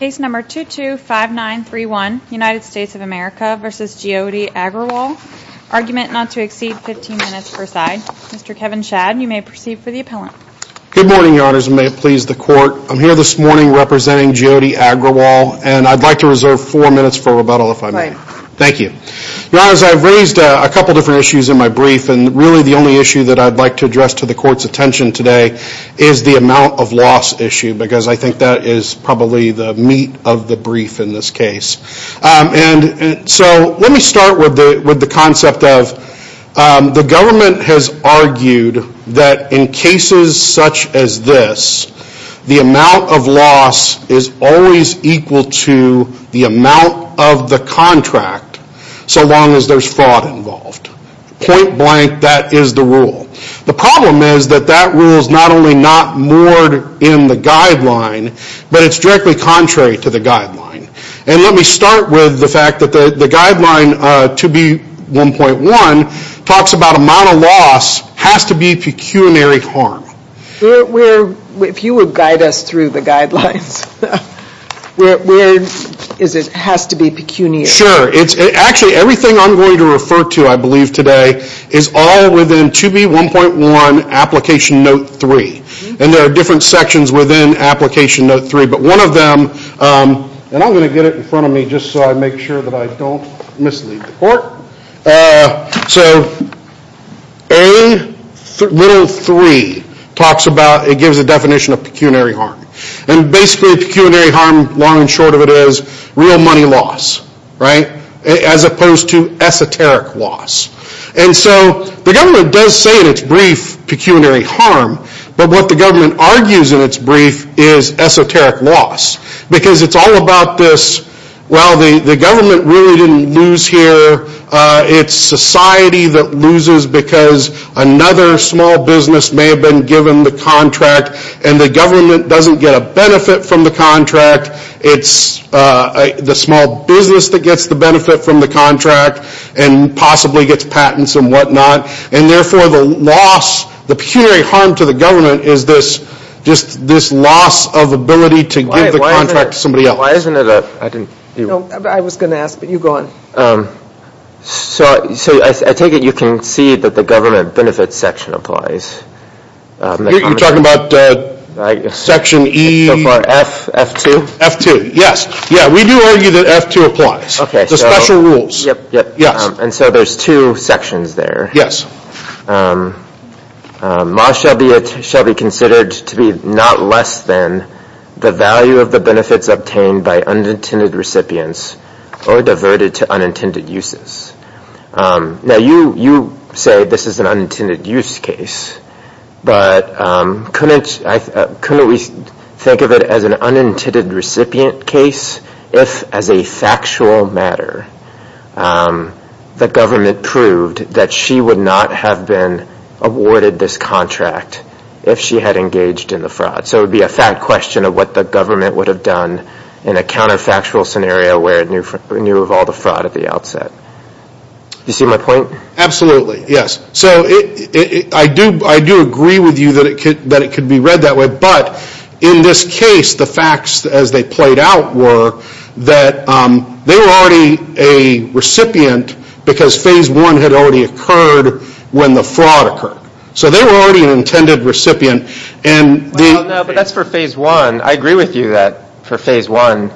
Case number 225931, United States of America v. Jyoti Agrawal. Argument not to exceed 15 minutes per side. Mr. Kevin Shad, you may proceed for the appellant. Good morning, your honors, and may it please the court. I'm here this morning representing Jyoti Agrawal, and I'd like to reserve four minutes for rebuttal if I may. Right. Thank you. Your honors, I've raised a couple different issues in my brief, and really the only issue that I'd like to address to the court's attention today is the amount of loss issue, because I think that is probably the meat of the brief in this case. And so let me start with the concept of the government has argued that in cases such as this, the amount of loss is always equal to the amount of the contract so long as there's fraud involved. Point blank, that is the rule. The problem is that that rule is not only not moored in the guideline, but it's directly contrary to the guideline. And let me start with the fact that the guideline 2B1.1 talks about amount of loss has to be pecuniary harm. If you would guide us through the guidelines, where is it has to be pecuniary? Sure. Actually, everything I'm going to refer to I believe today is all within 2B1.1 application note three. And there are different sections within application note three, but one of them, and I'm going to get it in front of me just so I make sure that I don't mislead the court. So A little three talks about, it gives a definition of pecuniary harm. And basically pecuniary harm, long and short of it is real money loss. As opposed to esoteric loss. And so the government does say in its brief pecuniary harm, but what the government argues in its brief is esoteric loss. Because it's all about this, well the government really didn't lose here, it's society that loses because another small business may have been given the contract and the government doesn't get a benefit from the contract. It's the small business that gets the benefit from the contract and possibly gets patents and what not. And therefore the loss, the pecuniary harm to the government is this, just this loss of ability to give the contract to somebody else. Why isn't it, I didn't, I was going to ask, but you go on. So I take it you can see that the government benefits section applies. You're talking about section E? F2? F2, yes. Yeah, we do argue that F2 applies. Okay. The special rules. Yes. And so there's two sections there. Yes. Most shall be considered to be not less than the value of the benefits obtained by unintended recipients or diverted to unintended uses. Now you say this is an unintended use case, but couldn't we think of it as an unintended recipient case if, as a factual matter, the government proved that she would not have been awarded this contract if she had engaged in the fraud? So it would be a fact question of what the government would have done in a counterfactual scenario where it knew of all the fraud at the outset. You see my point? Absolutely, yes. So I do agree with you that it could be read that way, but in this case the facts as they played out were that they were already a recipient because phase one had already occurred when the fraud occurred. So they were already an intended recipient. No, but that's for phase one. I agree with you that for phase one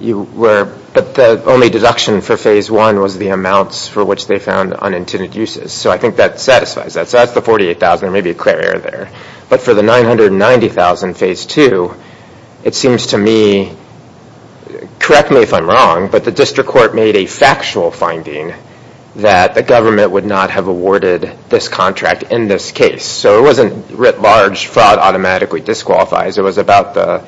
you were, but the only deduction for phase one was the amounts for which they found unintended uses. So I think that satisfies that. So that's the $48,000. There may be a clear error there. But for the $990,000 in phase two, it seems to me, correct me if I'm wrong, but the district court made a factual finding that the government would not have awarded this contract in this case. So it wasn't writ large fraud automatically disqualifies. It was about the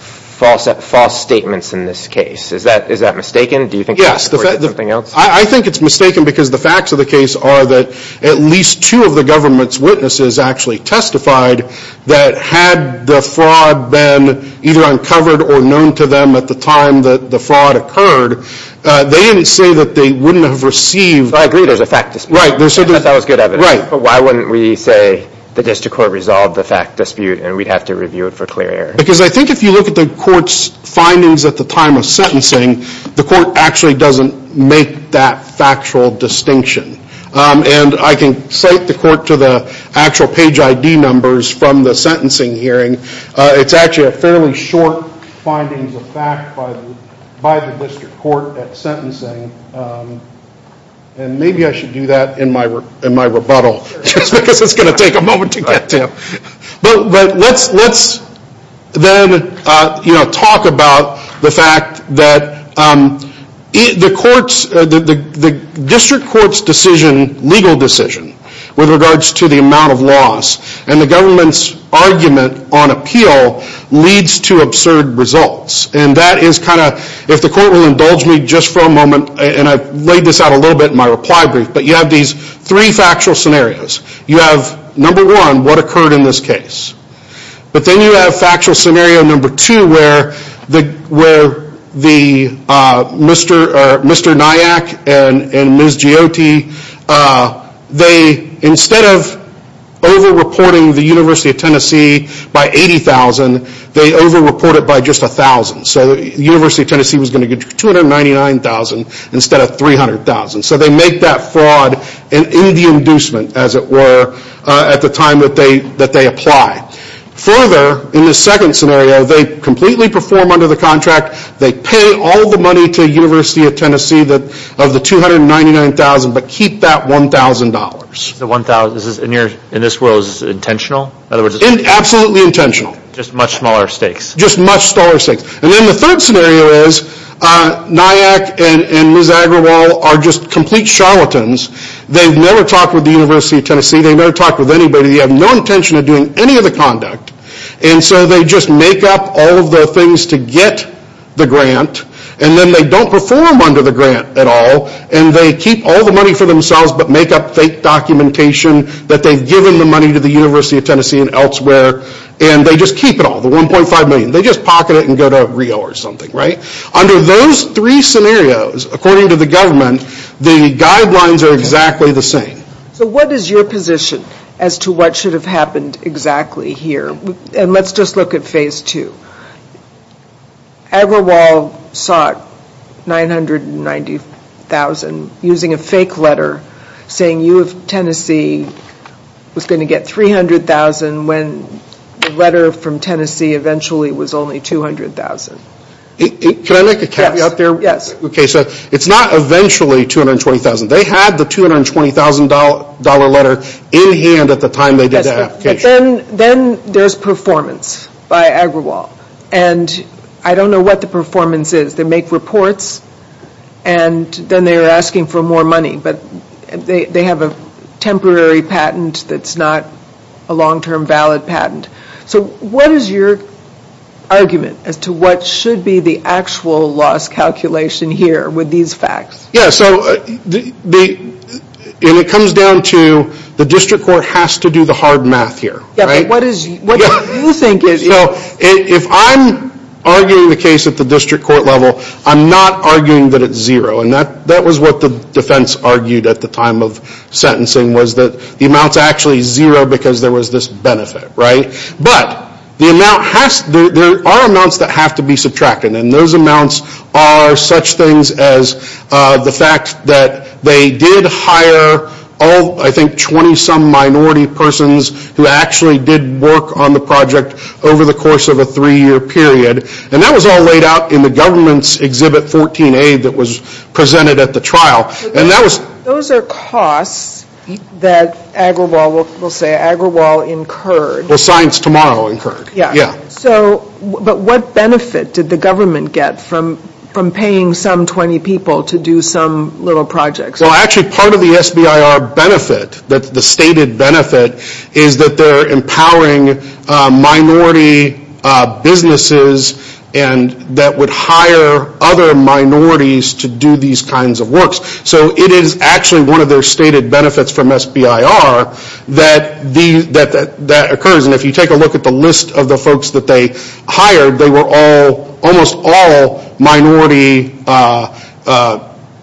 false statements in this case. Is that mistaken? Do you think it's something else? Yes, I think it's mistaken because the facts of the case are that at least two of the government's witnesses actually testified that had the fraud been either uncovered or known to them at the time that the fraud occurred, they didn't say that they wouldn't have received. I agree there's a fact dispute. Right. That was good evidence. Right. But why wouldn't we say the district court resolved the fact dispute and we'd have to review it for clear error? Because I think if you look at the court's findings at the time of sentencing, the court actually doesn't make that factual distinction. And I can cite the court to the actual page ID numbers from the sentencing hearing. It's actually a fairly short findings of fact by the district court at sentencing. And maybe I should do that in my rebuttal because it's going to take a moment to get to. But let's then talk about the fact that the district court's decision, legal decision with regards to the amount of loss and the government's argument on appeal leads to absurd results. And that is kind of, if the court will indulge me just for a moment, and I've laid this out a little bit in my reply brief, but you have these three factual scenarios. You have number one, what occurred in this case? But then you have factual scenario number two where the Mr. Nyack and Ms. Giotti, they, Mr. Nyack and Ms. Giotti, they, Mr. Nyack and Ms. Giotti, they, instead of over-reporting the University of Tennessee by $80,000, they over-report it by just $1,000. So the University of Tennessee was going to get $299,000 instead of $300,000. So they make that fraud in the inducement, as it were, at the time that they apply. Further, in the second scenario, they completely perform under the contract. They pay all the money to the University of Tennessee of the $299,000, but keep that $1,000. The $1,000, in this world, is this intentional? Absolutely intentional. Just much smaller stakes. Just much smaller stakes. And then the third scenario is Nyack and Ms. Agrawal are just complete charlatans. They've never talked with the University of Tennessee. They've never talked with anybody. They have no intention of doing any of the conduct. And so they just make up all of the things to get the grant. And then they don't perform under the grant at all. And they keep all the money for themselves, but make up fake documentation that they've given the money to the University of Tennessee and elsewhere. And they just keep it all, the $1.5 million. They just pocket it and go to Rio or something, right? Under those three scenarios, according to the government, the guidelines are exactly the same. So what is your position as to what should have happened exactly here? And let's just look at phase two. Agrawal sought $990,000 using a fake letter saying U of Tennessee was going to get $300,000 when the letter from Tennessee eventually was only $200,000. Can I make a caveat there? Yes. It's not eventually $220,000. They had the $220,000 letter in hand at the time they did the application. Then there's performance by Agrawal. And I don't know what the performance is. They make reports and then they are asking for more money. But they have a temporary patent that's not a long-term valid patent. So what is your argument as to what should be the actual loss calculation here with these facts? Yes. So it comes down to the district court has to do the hard math here. Yes. But what do you think is? If I'm arguing the case at the district court level, I'm not arguing that it's zero. And that was what the defense argued at the time of sentencing was that the amount's actually zero because there was this benefit, right? But there are amounts that have to be subtracted. And those amounts are such things as the fact that they did hire, I think, 20-some minority persons who actually did work on the project over the course of a three-year period. And that was all laid out in the government's Exhibit 14A that was presented at the trial. Those are costs that Agrawal will say, Agrawal incurred. Well, Science Tomorrow incurred, yes. So, but what benefit did the government get from paying some 20 people to do some little projects? Well, actually, part of the SBIR benefit, the stated benefit, is that they're empowering minority businesses and that would hire other minorities to do these kinds of works. So it is actually one of their stated benefits from SBIR that occurs. And if you take a look at the list of the folks that they hired, they were all, almost all, minority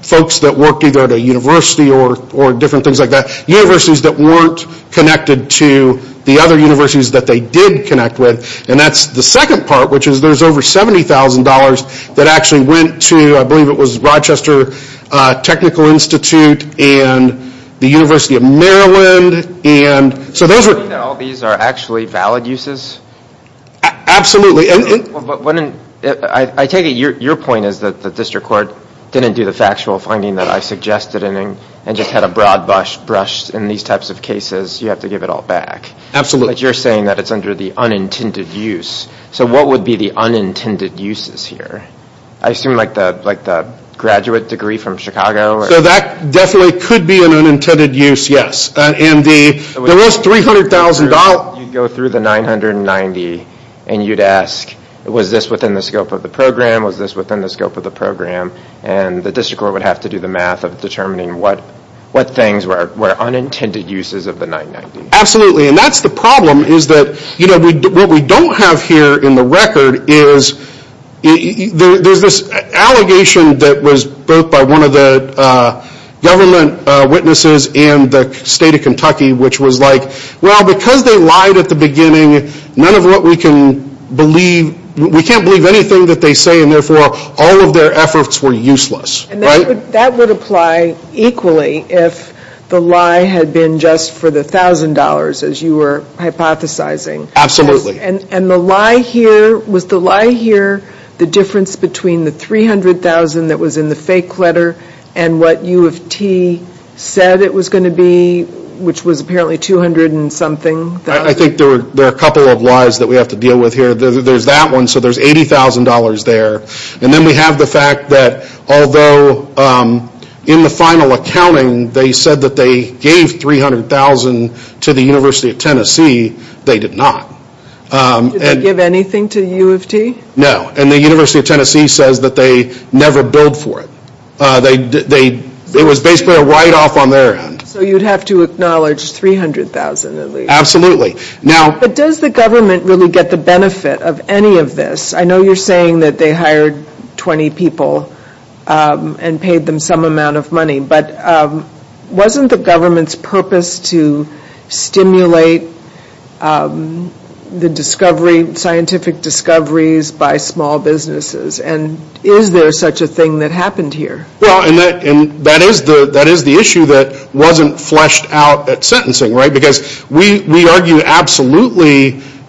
folks that worked either at a university or different things like that. Universities that weren't connected to the other universities that they did connect with. And that's the second part, which is there's over $70,000 that actually went to, I believe it was Rochester Technical Institute and the University of Maryland. Are you saying that all of these are actually valid uses? Absolutely. I take it your point is that the district court didn't do the factual finding that I suggested and just had a broad brush in these types of cases. You have to give it all back. Absolutely. But you're saying that it's under the unintended use. So what would be the unintended uses here? I assume like the graduate degree from Chicago? So that definitely could be an unintended use, yes. And the rest $300,000... You'd go through the 990 and you'd ask, was this within the scope of the program? Was this within the scope of the program? And the district court would have to do the math of determining what things were unintended uses of the 990. Absolutely. And that's the problem is that what we don't have here in the record is there's this allegation that was birthed by one of the government witnesses in the state of Kentucky which was like, well because they lied at the beginning, we can't believe anything that they say and therefore all of their efforts were useless. And that would apply equally if the lie had been just for the $1,000 as you were hypothesizing. Absolutely. And the lie here, was the lie here the difference between the $300,000 that was in the fake letter and what U of T said it was going to be, which was apparently $200 and something? I think there are a couple of lies that we have to deal with here. There's that one, so there's $80,000 there. And then we have the fact that although in the final accounting they said that they gave $300,000 to the University of Tennessee, they did not. Did they give anything to U of T? No. And the University of Tennessee says that they never billed for it. It was basically a write off on their end. So you'd have to acknowledge $300,000 at least. Absolutely. But does the government really get the benefit of any of this? I know you're saying that they hired 20 people and paid them some amount of money. But wasn't the government's purpose to stimulate the discovery, scientific discoveries by small businesses? And is there such a thing that happened here? Well, and that is the issue that wasn't fleshed out at sentencing, right? Because we argue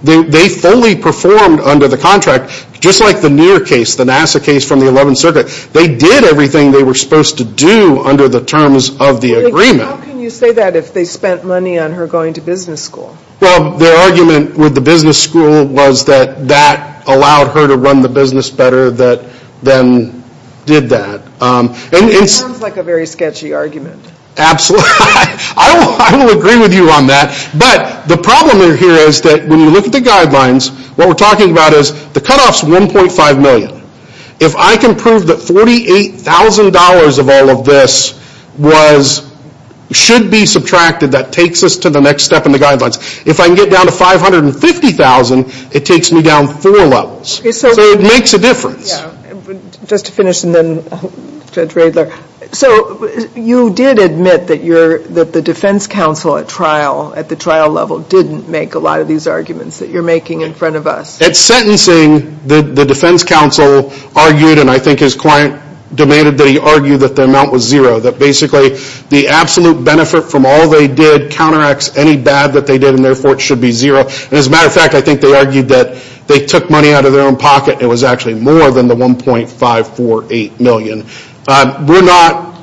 they fully performed under the contract, just like the Near case, the NASA case from the 11th Circuit. They did everything they were supposed to do under the terms of the agreement. How can you say that if they spent money on her going to business school? Well, their argument with the business school was that that allowed her to run the business better than did that. It sounds like a very sketchy argument. Absolutely. I will agree with you on that. But the problem here is that when you look at the guidelines, what we're talking about is the cut off is $1.5 million. If I can prove that $48,000 of all of this should be subtracted, that takes us to the next step in the guidelines. If I can get down to $550,000, it takes me down four levels. So it makes a difference. Just to finish, and then Judge Radler. So you did admit that the defense counsel at trial, at the trial level, didn't make a lot of these arguments that you're making in front of us. At sentencing, the defense counsel argued, and I think his client demanded that he argue that the amount was zero. That basically the absolute benefit from all they did counteracts any bad that they did and therefore it should be zero. And as a matter of fact, I think they argued that they took money out of their own pocket and it was actually more than the $1.548 million. We're not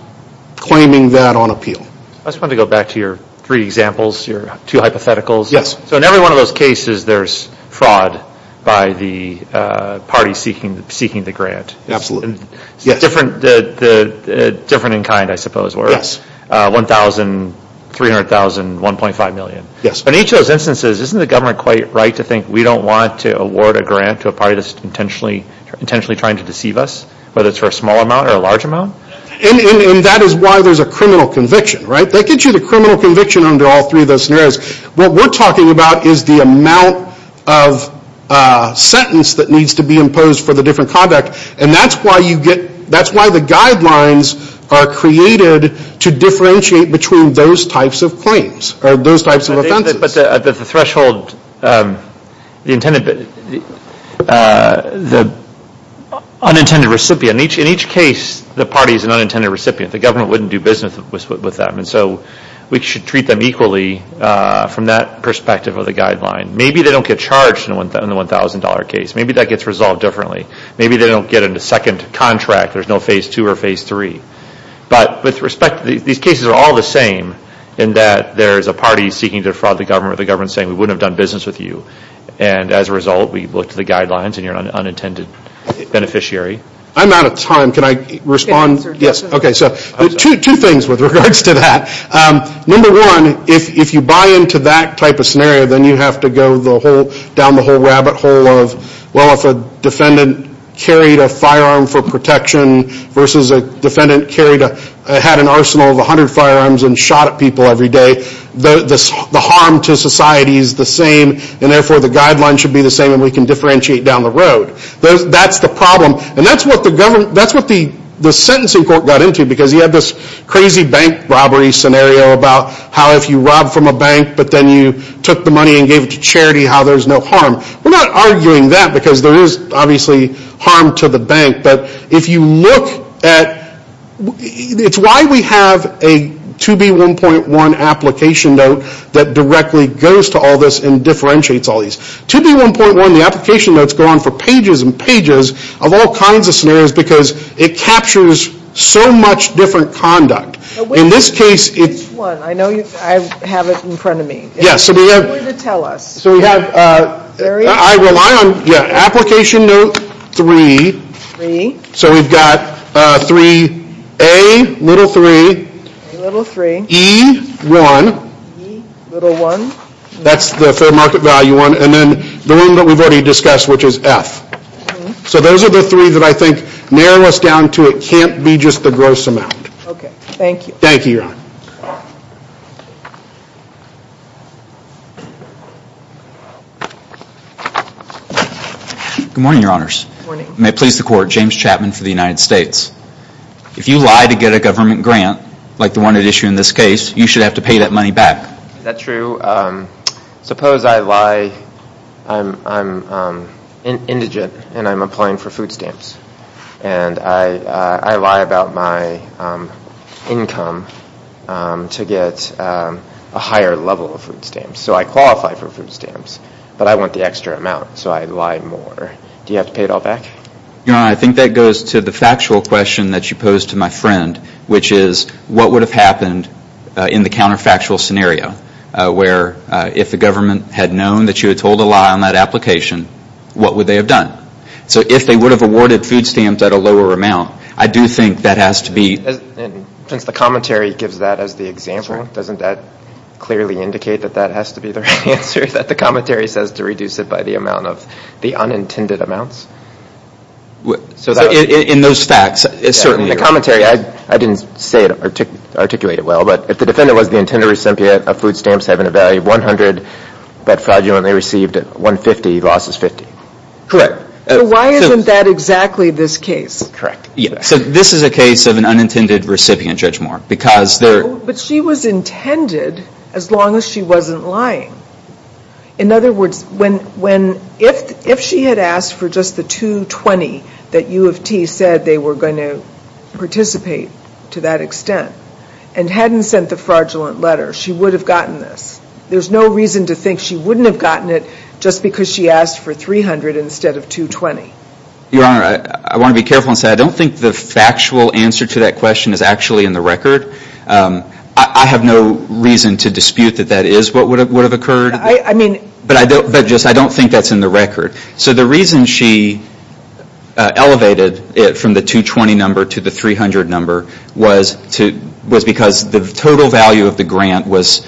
claiming that on appeal. I just want to go back to your three examples, your two hypotheticals. Yes. So in every one of those cases, there's fraud by the party seeking the grant. Absolutely. Different in kind, I suppose, where it's $1,000, $300,000, $1.5 million. Yes. In each of those instances, isn't the government quite right to think we don't want to award a grant to a party that's intentionally trying to deceive us, whether it's for a small amount or a large amount? And that is why there's a criminal conviction, right? They get you the criminal conviction under all three of those scenarios. What we're talking about is the amount of sentence that needs to be imposed for the different conduct, and that's why the guidelines are created to differentiate between those types of claims or those types of offenses. But the threshold, the unintended recipient, in each case, the party is an unintended recipient. The government wouldn't do business with them. And so we should treat them equally from that perspective of the guideline. Maybe they don't get charged in the $1,000 case. Maybe that gets resolved differently. Maybe they don't get a second contract. There's no phase two or phase three. But with respect, these cases are all the same in that there's a party seeking to defraud the government or the government saying we wouldn't have done business with you. And as a result, we looked at the guidelines and you're an unintended beneficiary. I'm out of time. Can I respond? Okay, so two things with regards to that. Number one, if you buy into that type of scenario, then you have to go down the whole rabbit hole of, well, if a defendant carried a firearm for protection versus a defendant had an arsenal of 100 firearms and shot at people every day, the harm to society is the same. And therefore, the guidelines should be the same and we can differentiate down the road. That's the problem. And that's what the sentencing court got into because you have this crazy bank robbery scenario about how if you rob from a bank but then you took the money and gave it to charity, how there's no harm. We're not arguing that because there is obviously harm to the bank. But if you look at, it's why we have a 2B1.1 application note that directly goes to all this and differentiates all these. 2B1.1, the application notes go on for pages and pages of all kinds of scenarios because it captures so much different conduct. In this case, it's. Which one? I know I have it in front of me. Yes, so we have. Tell us. So we have, I rely on, yeah, application note 3. 3. So we've got 3A, little 3. Little 3. E1. E, little 1. That's the fair market value one. And then the one that we've already discussed, which is F. So those are the three that I think narrow us down to it can't be just the gross amount. Okay, thank you. Thank you, Your Honor. Good morning, Your Honors. May it please the Court. James Chapman for the United States. If you lie to get a government grant like the one at issue in this case, you should have to pay that money back. Is that true? Suppose I lie, I'm indigent and I'm applying for food stamps. And I lie about my income to get a higher level of food stamps. So I qualify for food stamps. But I want the extra amount, so I lie more. Do you have to pay it all back? Your Honor, I think that goes to the factual question that you posed to my friend, which is what would have happened in the counterfactual scenario, where if the government had known that you had told a lie on that application, what would they have done? So if they would have awarded food stamps at a lower amount, I do think that has to be. Since the commentary gives that as the example, doesn't that clearly indicate that that has to be the right answer, that the commentary says to reduce it by the amount of the unintended amounts? In those facts, it certainly is. In the commentary, I didn't articulate it well, but if the defendant was the intended recipient of food stamps having a value of 100, but fraudulently received 150, the loss is 50. Correct. So why isn't that exactly this case? Correct. So this is a case of an unintended recipient, Judge Moore, because there But she was intended as long as she wasn't lying. In other words, if she had asked for just the 220 that U of T said they were going to participate to that extent and hadn't sent the fraudulent letter, she would have gotten this. There's no reason to think she wouldn't have gotten it just because she asked for 300 instead of 220. Your Honor, I want to be careful and say I don't think the factual answer to that question is actually in the record. I have no reason to dispute that that is what would have occurred. But I don't think that's in the record. So the reason she elevated it from the 220 number to the 300 number was because the total value of the grant was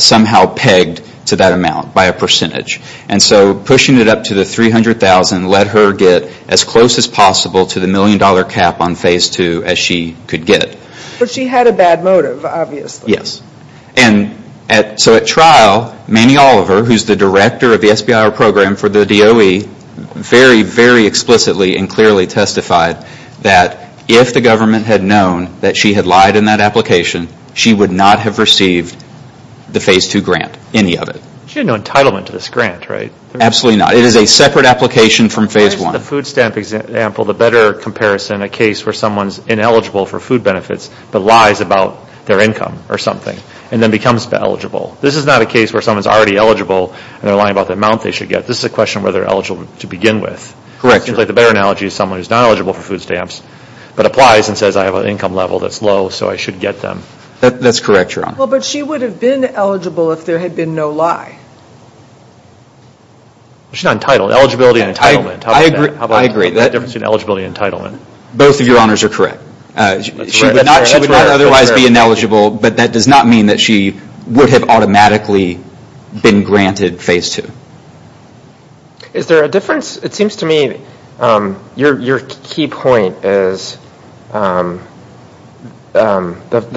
somehow pegged to that amount by a percentage. And so pushing it up to the 300,000 let her get as close as possible to the million-dollar cap on Phase 2 as she could get. But she had a bad motive, obviously. And so at trial, Manny Oliver, who's the director of the SBIR program for the DOE, very, very explicitly and clearly testified that if the government had known that she had lied in that application, she would not have received the Phase 2 grant, any of it. She had no entitlement to this grant, right? Absolutely not. It is a separate application from Phase 1. In the food stamp example, the better comparison, a case where someone's ineligible for food benefits but lies about their income or something and then becomes eligible. This is not a case where someone's already eligible and they're lying about the amount they should get. This is a question where they're eligible to begin with. Correct. The better analogy is someone who's not eligible for food stamps but applies and says I have an income level that's low so I should get them. That's correct, Your Honor. Well, but she would have been eligible if there had been no lie. She's not entitled. Eligibility and entitlement. I agree. What's the difference between eligibility and entitlement? Both of Your Honors are correct. She would not otherwise be ineligible but that does not mean that she would have automatically been granted Phase 2. Is there a difference? It seems to me your key point is the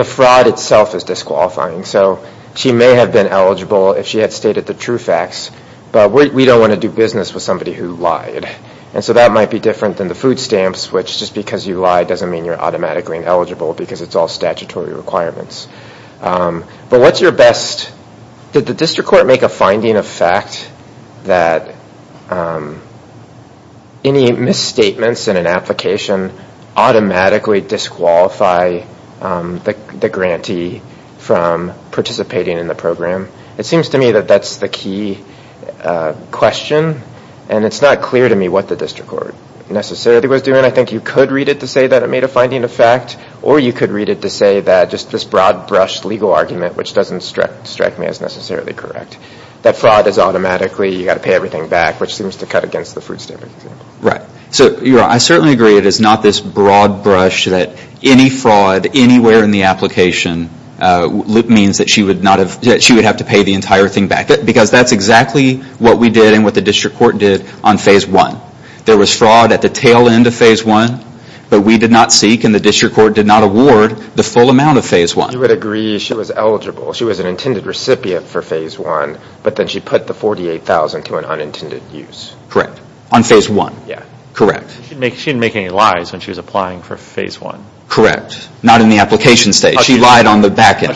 fraud itself is disqualifying. So she may have been eligible if she had stated the true facts but we don't want to do business with somebody who lied. And so that might be different than the food stamps which just because you lied doesn't mean you're automatically ineligible because it's all statutory requirements. But what's your best... Did the district court make a finding of fact that any misstatements in an application automatically disqualify the grantee from participating in the program? It seems to me that that's the key question and it's not clear to me what the district court necessarily was doing. I think you could read it to say that it made a finding of fact or you could read it to say that just this broad brush legal argument which doesn't strike me as necessarily correct. That fraud is automatically you've got to pay everything back which seems to cut against the food stamps. Right. So I certainly agree it is not this broad brush that any fraud anywhere in the application means that she would have to pay the entire thing back because that's exactly what we did and what the district court did on phase one. There was fraud at the tail end of phase one but we did not seek and the district court did not award the full amount of phase one. You would agree she was eligible. She was an intended recipient for phase one but then she put the $48,000 to an unintended use. Correct. On phase one. Yeah. Correct. She didn't make any lies when she was applying for phase one. Correct. Not in the application stage. She lied on the back end.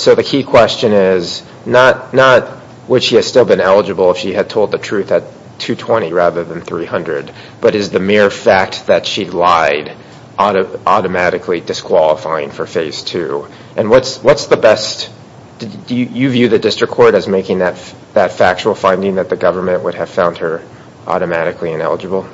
So the key question is not would she have still been eligible if she had told the truth at $220,000 rather than $300,000 but is the mere fact that she lied automatically disqualifying for phase two? And what's the best? Do you view the district court as making that factual finding that the government would have found her automatically ineligible?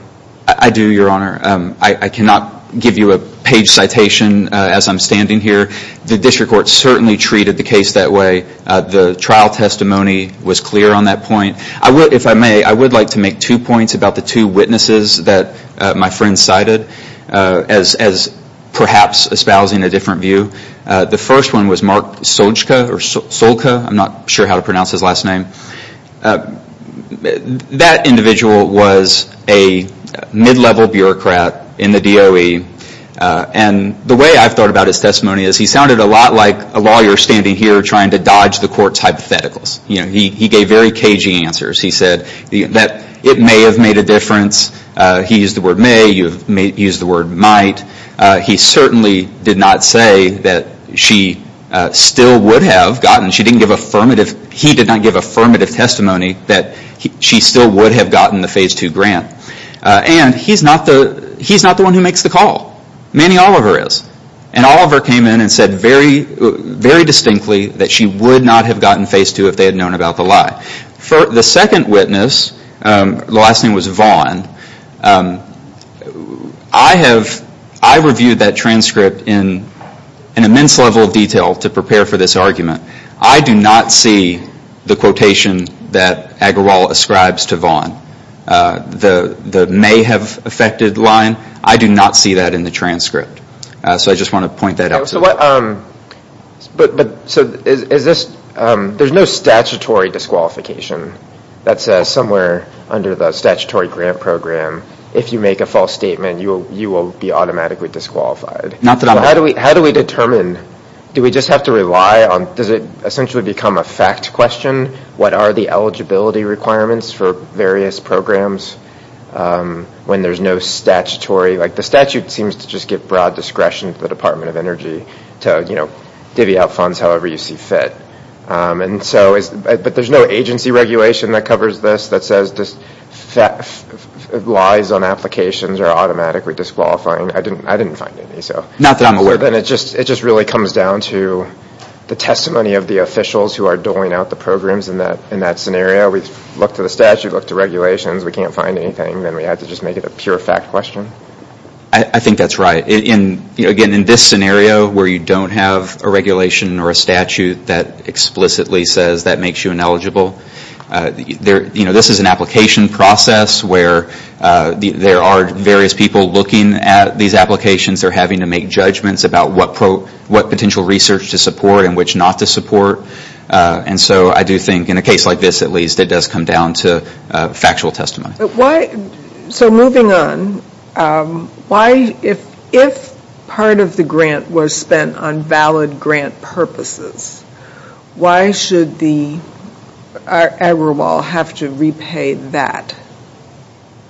I do, your honor. I cannot give you a page citation as I'm standing here. The district court certainly treated the case that way. The trial testimony was clear on that point. If I may, I would like to make two points about the two witnesses that my friend cited as perhaps espousing a different view. The first one was Mark Solka. I'm not sure how to pronounce his last name. That individual was a mid-level bureaucrat in the DOE. And the way I've thought about his testimony is he sounded a lot like a lawyer standing here trying to dodge the court's hypotheticals. He gave very cagey answers. He said that it may have made a difference. He used the word may. You've used the word might. He certainly did not say that she still would have gotten. He did not give affirmative testimony that she still would have gotten the phase two grant. And he's not the one who makes the call. Manny Oliver is. And Oliver came in and said very distinctly that she would not have gotten phase two if they had known about the lie. The second witness, the last name was Vaughn. I reviewed that transcript in an immense level of detail to prepare for this argument. I do not see the quotation that Agrawal ascribes to Vaughn, the may have affected line. I do not see that in the transcript. So I just want to point that out. But so is this there's no statutory disqualification that says somewhere under the statutory grant program. If you make a false statement, you will you will be automatically disqualified. How do we how do we determine. Do we just have to rely on. Does it essentially become a fact question. What are the eligibility requirements for various programs when there's no statutory. Like the statute seems to just give broad discretion to the Department of Energy to divvy out funds however you see fit. And so but there's no agency regulation that covers this that says this lies on applications are automatically disqualifying. I didn't I didn't find any. So not that I'm aware of. And it just it just really comes down to the testimony of the officials who are doling out the programs. And that in that scenario, we look to the statute, look to regulations. We can't find anything. Then we have to just make it a pure fact question. I think that's right. And again, in this scenario where you don't have a regulation or a statute that explicitly says that makes you ineligible. There you know, this is an application process where there are various people looking at these applications. They're having to make judgments about what what potential research to support and which not to support. And so I do think in a case like this, at least it does come down to factual testimony. So moving on. Why if if part of the grant was spent on valid grant purposes, why should the Agrawal have to repay that?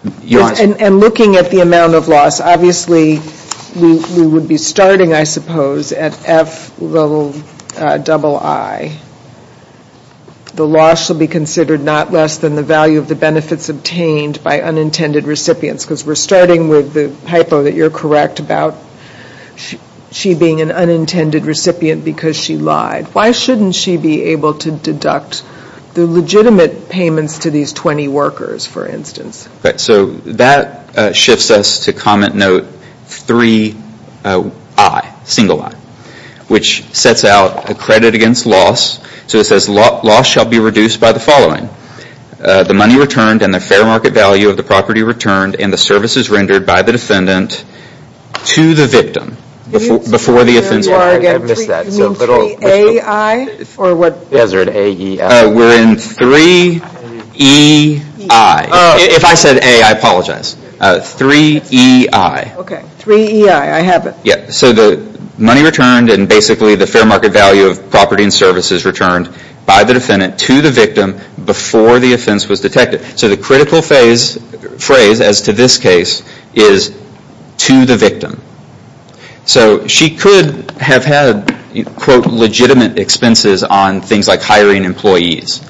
And looking at the amount of loss, obviously, we would be starting, I suppose, at F double I. The loss will be considered not less than the value of the benefits obtained by unintended recipients. Because we're starting with the hypo that you're correct about she being an unintended recipient because she lied. Why shouldn't she be able to deduct the legitimate payments to these 20 workers, for instance? So that shifts us to comment note three I, single I. Which sets out a credit against loss. So it says loss shall be reduced by the following. The money returned and the fair market value of the property returned and the services rendered by the defendant to the victim. Before the offense. I missed that. So A I? Or what? We're in three E I. If I said A, I apologize. Three E I. Okay. Three E I. I have it. So the money returned and basically the fair market value of property and services returned by the defendant to the victim before the offense was detected. So the critical phrase as to this case is to the victim. So she could have had quote legitimate expenses on things like hiring employees.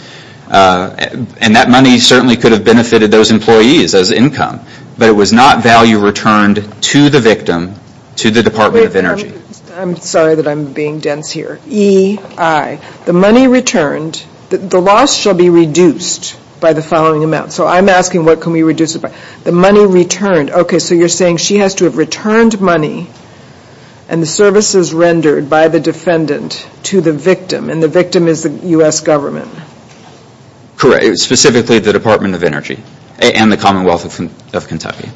And that money certainly could have benefited those employees as income. But it was not value returned to the victim to the Department of Energy. I'm sorry that I'm being dense here. E I. The money returned. The loss shall be reduced by the following amount. So I'm asking what can we reduce it by. The money returned. Okay. So you're saying she has to have returned money and the services rendered by the defendant to the victim. And the victim is the U.S. government. Specifically the Department of Energy and the Commonwealth of Kentucky.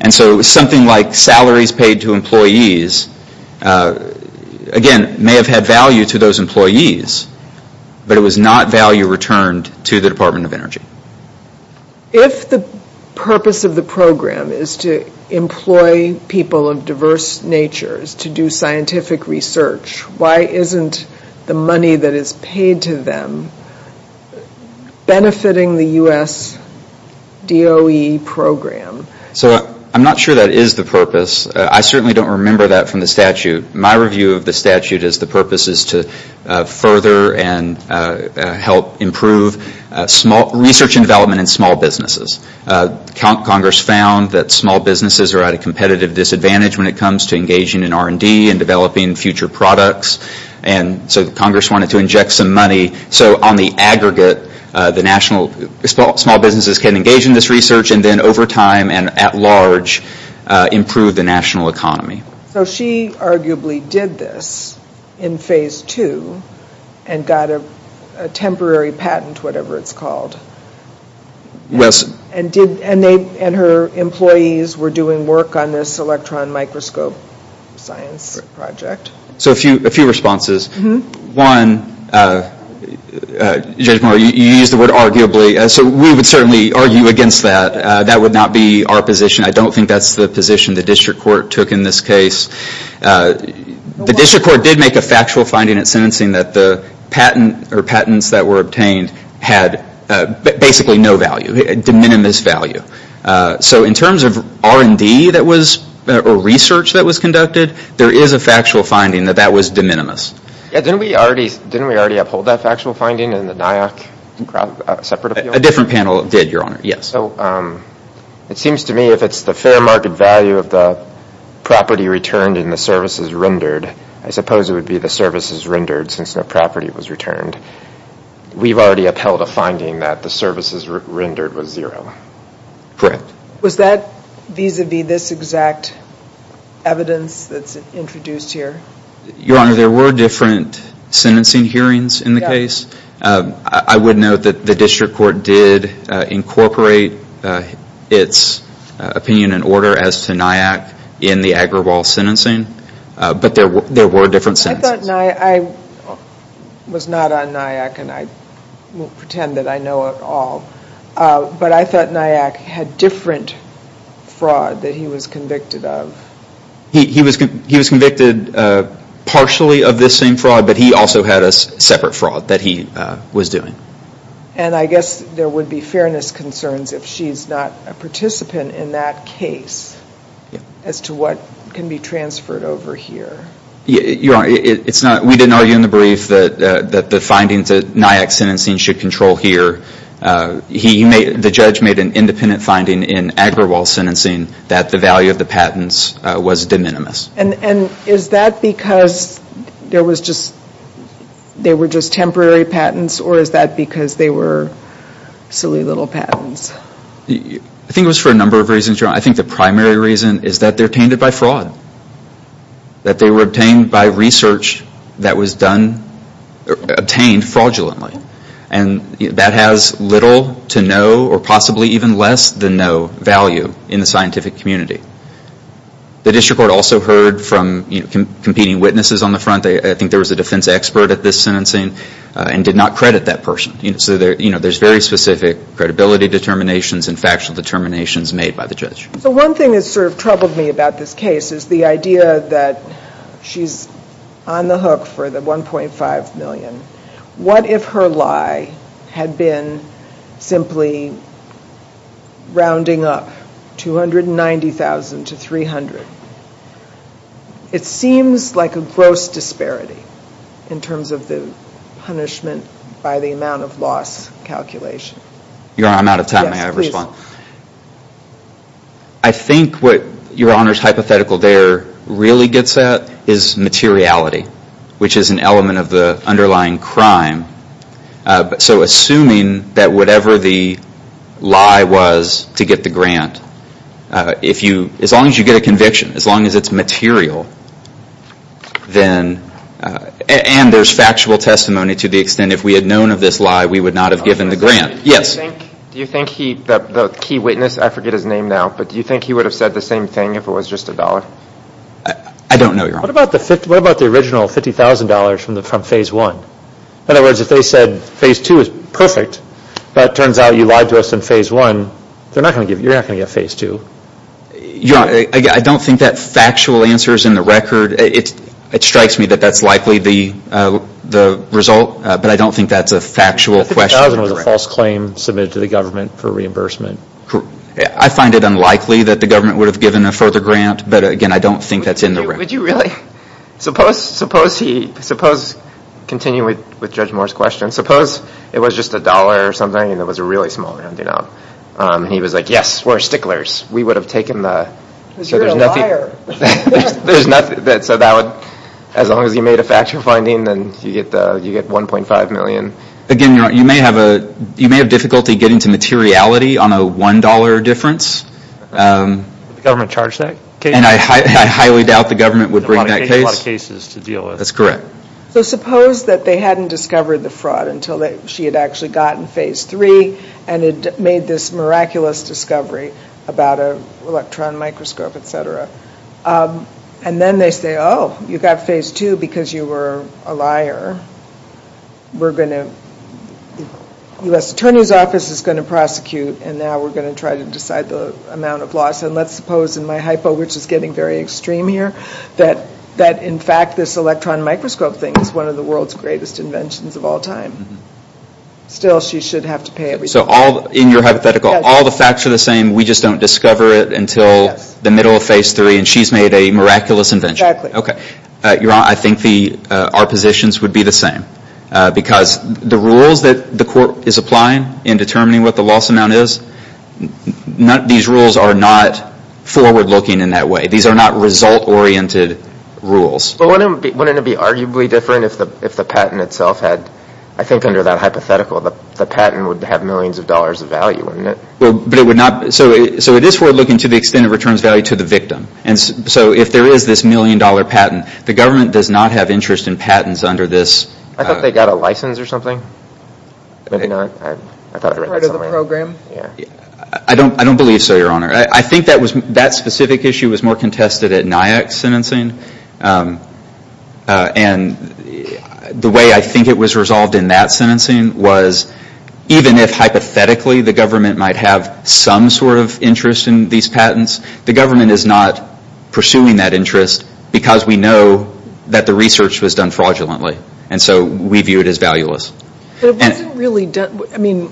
And so something like salaries paid to employees, again, may have had value to those employees. But it was not value returned to the Department of Energy. If the purpose of the program is to employ people of diverse natures to do scientific research, why isn't the money that is paid to them benefiting the U.S. DOE program? So I'm not sure that is the purpose. I certainly don't remember that from the statute. My review of the statute is the purpose is to further and help improve research and development in small businesses. Congress found that small businesses are at a competitive disadvantage when it comes to engaging in R&D and developing future products. And so Congress wanted to inject some money so on the aggregate small businesses can engage in this research and then over time and at large improve the national economy. So she arguably did this in phase two and got a temporary patent, whatever it's called. Yes. And her employees were doing work on this electron microscope science project. So a few responses. One, Judge Moore, you used the word arguably. So we would certainly argue against that. That would not be our position. I don't think that's the position the district court took in this case. The district court did make a factual finding at sentencing that the patent or patents that were obtained had basically no value, de minimis value. So in terms of R&D that was, or research that was conducted, there is a factual finding that that was de minimis. Didn't we already uphold that factual finding in the NIAC separate appeal? A different panel did, Your Honor, yes. So it seems to me if it's the fair market value of the property returned and the services rendered, I suppose it would be the services rendered since no property was returned. We've already upheld a finding that the services rendered was zero. Correct. Was that vis-a-vis this exact evidence that's introduced here? Your Honor, there were different sentencing hearings in the case. I would note that the district court did incorporate its opinion and order as to NIAC in the Agrawal sentencing, but there were different sentences. I thought NIAC, I was not on NIAC and I won't pretend that I know it all, but I thought NIAC had different fraud that he was convicted of. He was convicted partially of this same fraud, but he also had a separate fraud that he was doing. And I guess there would be fairness concerns if she's not a participant in that case as to what can be transferred over here. Your Honor, we didn't argue in the brief that the findings that NIAC sentencing should control here. The judge made an independent finding in Agrawal sentencing that the value of the patents was de minimis. And is that because there were just temporary patents or is that because they were silly little patents? I think it was for a number of reasons, Your Honor. I think the primary reason is that they're tainted by fraud, that they were obtained by research that was obtained fraudulently. And that has little to no or possibly even less than no value in the scientific community. The district court also heard from competing witnesses on the front. I think there was a defense expert at this sentencing and did not credit that person. So there's very specific credibility determinations and factual determinations made by the judge. So one thing that's sort of troubled me about this case is the idea that she's on the hook for the $1.5 million. What if her lie had been simply rounding up $290,000 to $300,000? It seems like a gross disparity in terms of the punishment by the amount of loss calculation. Your Honor, I'm out of time. May I respond? I think what Your Honor's hypothetical there really gets at is materiality, which is an element of the underlying crime. So assuming that whatever the lie was to get the grant, as long as you get a conviction, as long as it's material, and there's factual testimony to the extent if we had known of this lie, we would not have given the grant. Do you think the key witness, I forget his name now, but do you think he would have said the same thing if it was just $1? I don't know, Your Honor. What about the original $50,000 from Phase 1? In other words, if they said Phase 2 is perfect, but it turns out you lied to us in Phase 1, you're not going to get Phase 2. Your Honor, I don't think that factual answer is in the record. It strikes me that that's likely the result, but I don't think that's a factual question. $50,000 was a false claim submitted to the government for reimbursement. I find it unlikely that the government would have given a further grant, but again, I don't think that's in the record. Would you really? Suppose, continuing with Judge Moore's question, suppose it was just a dollar or something and it was a really small amount, and he was like, yes, we're sticklers. We would have taken the... Because you're a liar. There's nothing, so that would, as long as you made a factual finding, then you get $1.5 million. Again, Your Honor, you may have difficulty getting to materiality on a $1 difference. Would the government charge that? I highly doubt the government would bring that case. It would take a lot of cases to deal with. That's correct. So suppose that they hadn't discovered the fraud until she had actually gotten Phase 3 and had made this miraculous discovery about an electron microscope, et cetera. And then they say, oh, you got Phase 2 because you were a liar. We're going to, the U.S. Attorney's Office is going to prosecute, and now we're going to try to decide the amount of loss. And let's suppose, in my hypo, which is getting very extreme here, that in fact this electron microscope thing is one of the world's greatest inventions of all time. Still, she should have to pay everything. So in your hypothetical, all the facts are the same, we just don't discover it until the middle of Phase 3 and she's made a miraculous invention. Exactly. Okay. Your Honor, I think our positions would be the same because the rules that the court is applying in determining what the loss amount is, these rules are not forward-looking in that way. These are not result-oriented rules. But wouldn't it be arguably different if the patent itself had, I think under that hypothetical, the patent would have millions of dollars of value in it? But it would not, so it is forward-looking to the extent it returns value to the victim. And so if there is this million dollar patent, the government does not have interest in patents under this. I thought they got a license or something. Maybe not. I thought I read that somewhere. Part of the program. I don't believe so, Your Honor. I think that specific issue was more contested at NIAC's sentencing. And the way I think it was resolved in that sentencing was, even if hypothetically the government might have some sort of interest in these patents, the government is not pursuing that interest because we know that the research was done fraudulently. And so we view it as valueless. But it wasn't really done. I mean,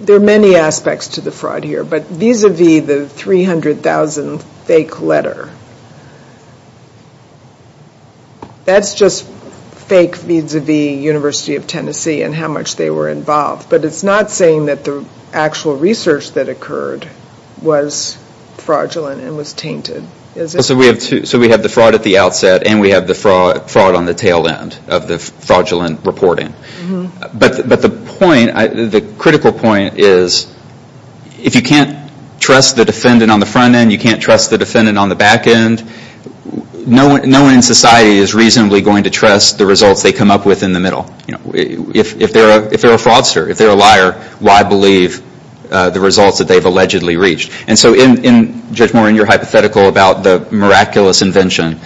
there are many aspects to the fraud here. But vis-a-vis the 300,000 fake letter, that's just fake vis-a-vis University of Tennessee and how much they were involved. But it's not saying that the actual research that occurred was fraudulent and was tainted, is it? So we have the fraud at the outset and we have the fraud on the tail end of the fraudulent reporting. But the point, the critical point is, if you can't trust the defendant on the front end, you can't trust the defendant on the back end, no one in society is reasonably going to trust the results they come up with in the middle. If they're a fraudster, if they're a liar, why believe the results that they've allegedly reached? And so, Judge Morin, your hypothetical about the miraculous invention,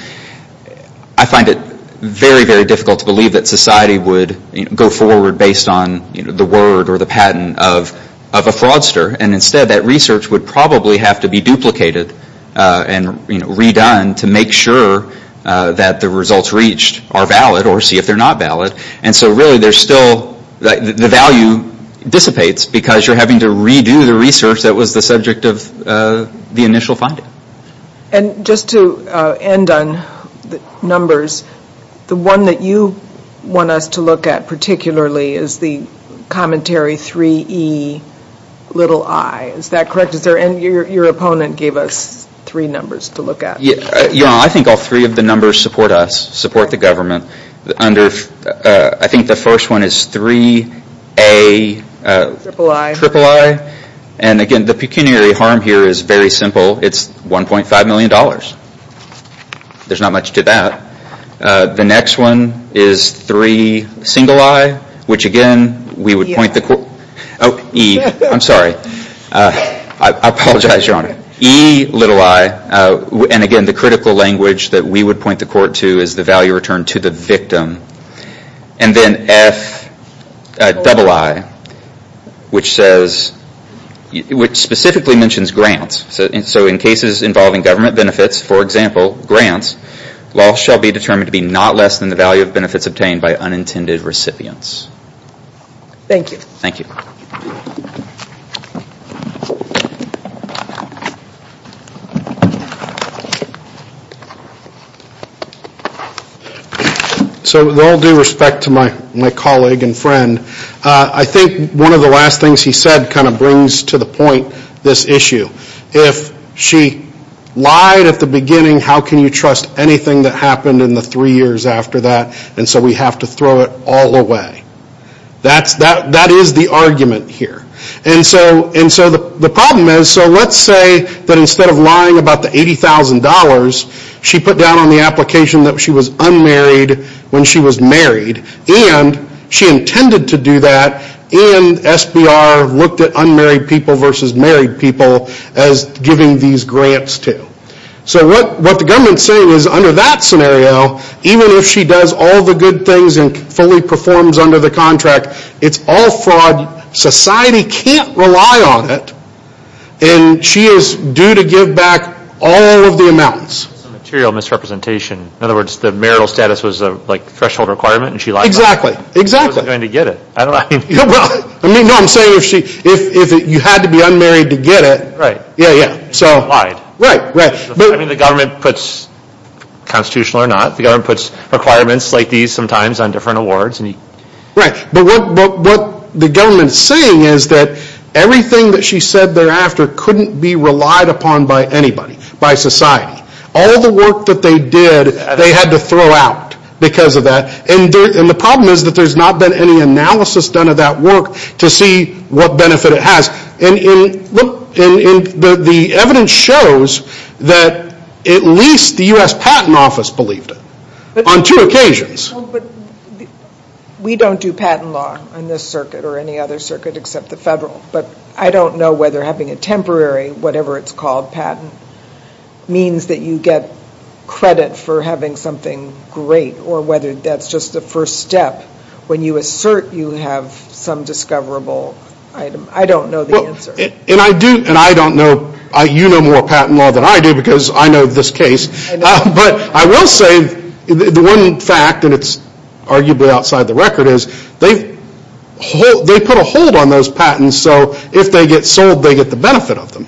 I find it very, very difficult to believe that society would go forward based on the word or the patent of a fraudster. And instead, that research would probably have to be duplicated and redone to make sure that the results reached are valid or see if they're not valid. And so really, there's still, the value dissipates because you're having to redo the research that was the subject of the initial finding. And just to end on numbers, the one that you want us to look at particularly is the commentary 3Ei. Is that correct? Is there any, your opponent gave us three numbers to look at. Yeah, I think all three of the numbers support us, support the government. I think the first one is 3Aiii. And again, the pecuniary harm here is very simple. It's $1.5 million. There's not much to that. The next one is 3i, which again, we would point the court to. Oh, E, I'm sorry. I apologize, Your Honor. Eiii, and again, the critical language that we would point the court to is the value returned to the victim. And then Fiii, which says, which specifically mentions grants. So in cases involving government benefits, for example, grants, loss shall be determined to be not less than the value of benefits obtained by unintended recipients. Thank you. Thank you. Thank you. So with all due respect to my colleague and friend, I think one of the last things he said kind of brings to the point this issue. If she lied at the beginning, how can you trust anything that happened in the three years after that? And so we have to throw it all away. That is the argument here. And so the problem is, so let's say that instead of lying about the $80,000, she put down on the application that she was unmarried when she was married, and she intended to do that, and SBR looked at unmarried people versus married people as giving these grants to. So what the government is saying is under that scenario, even if she does all the good things and fully performs under the contract, it's all fraud. Society can't rely on it. And she is due to give back all of the amounts. Material misrepresentation. In other words, the marital status was a threshold requirement and she lied about it. Exactly. Exactly. She wasn't going to get it. I mean, no, I'm saying if you had to be unmarried to get it. Right. Yeah, yeah. So. Lied. Right, right. I mean, the government puts, constitutional or not, the government puts requirements like these sometimes on different awards. Right. But what the government is saying is that everything that she said thereafter couldn't be relied upon by anybody, by society. All the work that they did, they had to throw out because of that. And the problem is that there's not been any analysis done of that work to see what benefit it has. And the evidence shows that at least the U.S. Patent Office believed it on two occasions. Well, but we don't do patent law on this circuit or any other circuit except the federal. But I don't know whether having a temporary, whatever it's called, patent, means that you get credit for having something great or whether that's just a first step when you assert you have some discoverable item. I don't know the answer. And I do, and I don't know, you know more patent law than I do because I know this case. I know. The one fact, and it's arguably outside the record, is they put a hold on those patents so if they get sold they get the benefit of them,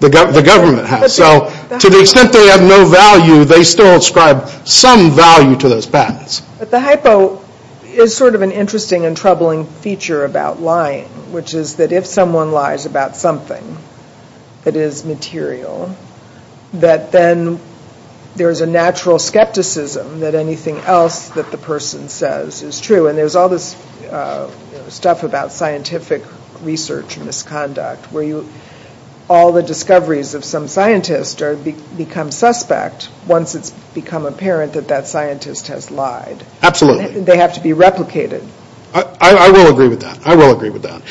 the government has. So to the extent they have no value, they still ascribe some value to those patents. But the hypo is sort of an interesting and troubling feature about lying, which is that if someone lies about something that is material, that then there is a natural skepticism that anything else that the person says is true. And there's all this stuff about scientific research and misconduct where all the discoveries of some scientist become suspect once it's become apparent that that scientist has lied. Absolutely. They have to be replicated. I will agree with that. I will agree with that.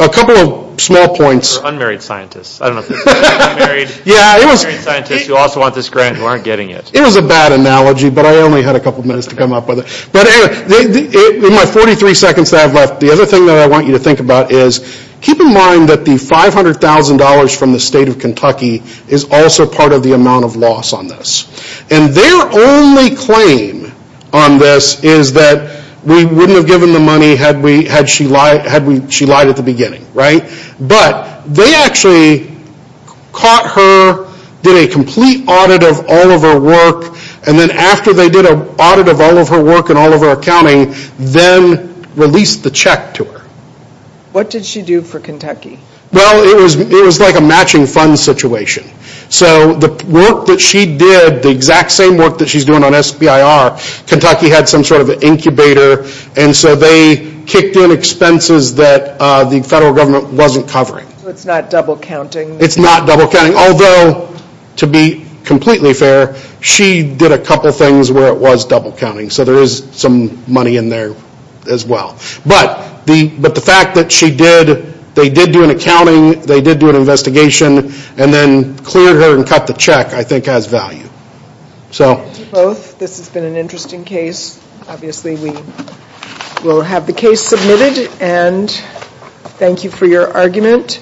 A couple of small points. Unmarried scientists. Unmarried scientists who also want this grant who aren't getting it. It was a bad analogy, but I only had a couple of minutes to come up with it. But in my 43 seconds that I have left, the other thing that I want you to think about is keep in mind that the $500,000 from the state of Kentucky is also part of the amount of loss on this. And their only claim on this is that we wouldn't have given the money had she lied at the beginning. But they actually caught her, did a complete audit of all of her work, and then after they did an audit of all of her work and all of her accounting, then released the check to her. What did she do for Kentucky? Well, it was like a matching funds situation. So the work that she did, the exact same work that she's doing on SBIR, Kentucky had some sort of an incubator, and so they kicked in expenses that the federal government wasn't covering. So it's not double counting. It's not double counting. Although, to be completely fair, she did a couple of things where it was double counting. So there is some money in there as well. But the fact that she did, they did do an accounting, they did do an investigation, and then cleared her and cut the check, I think has value. Thank you both. This has been an interesting case. Obviously, we will have the case submitted, and thank you for your argument.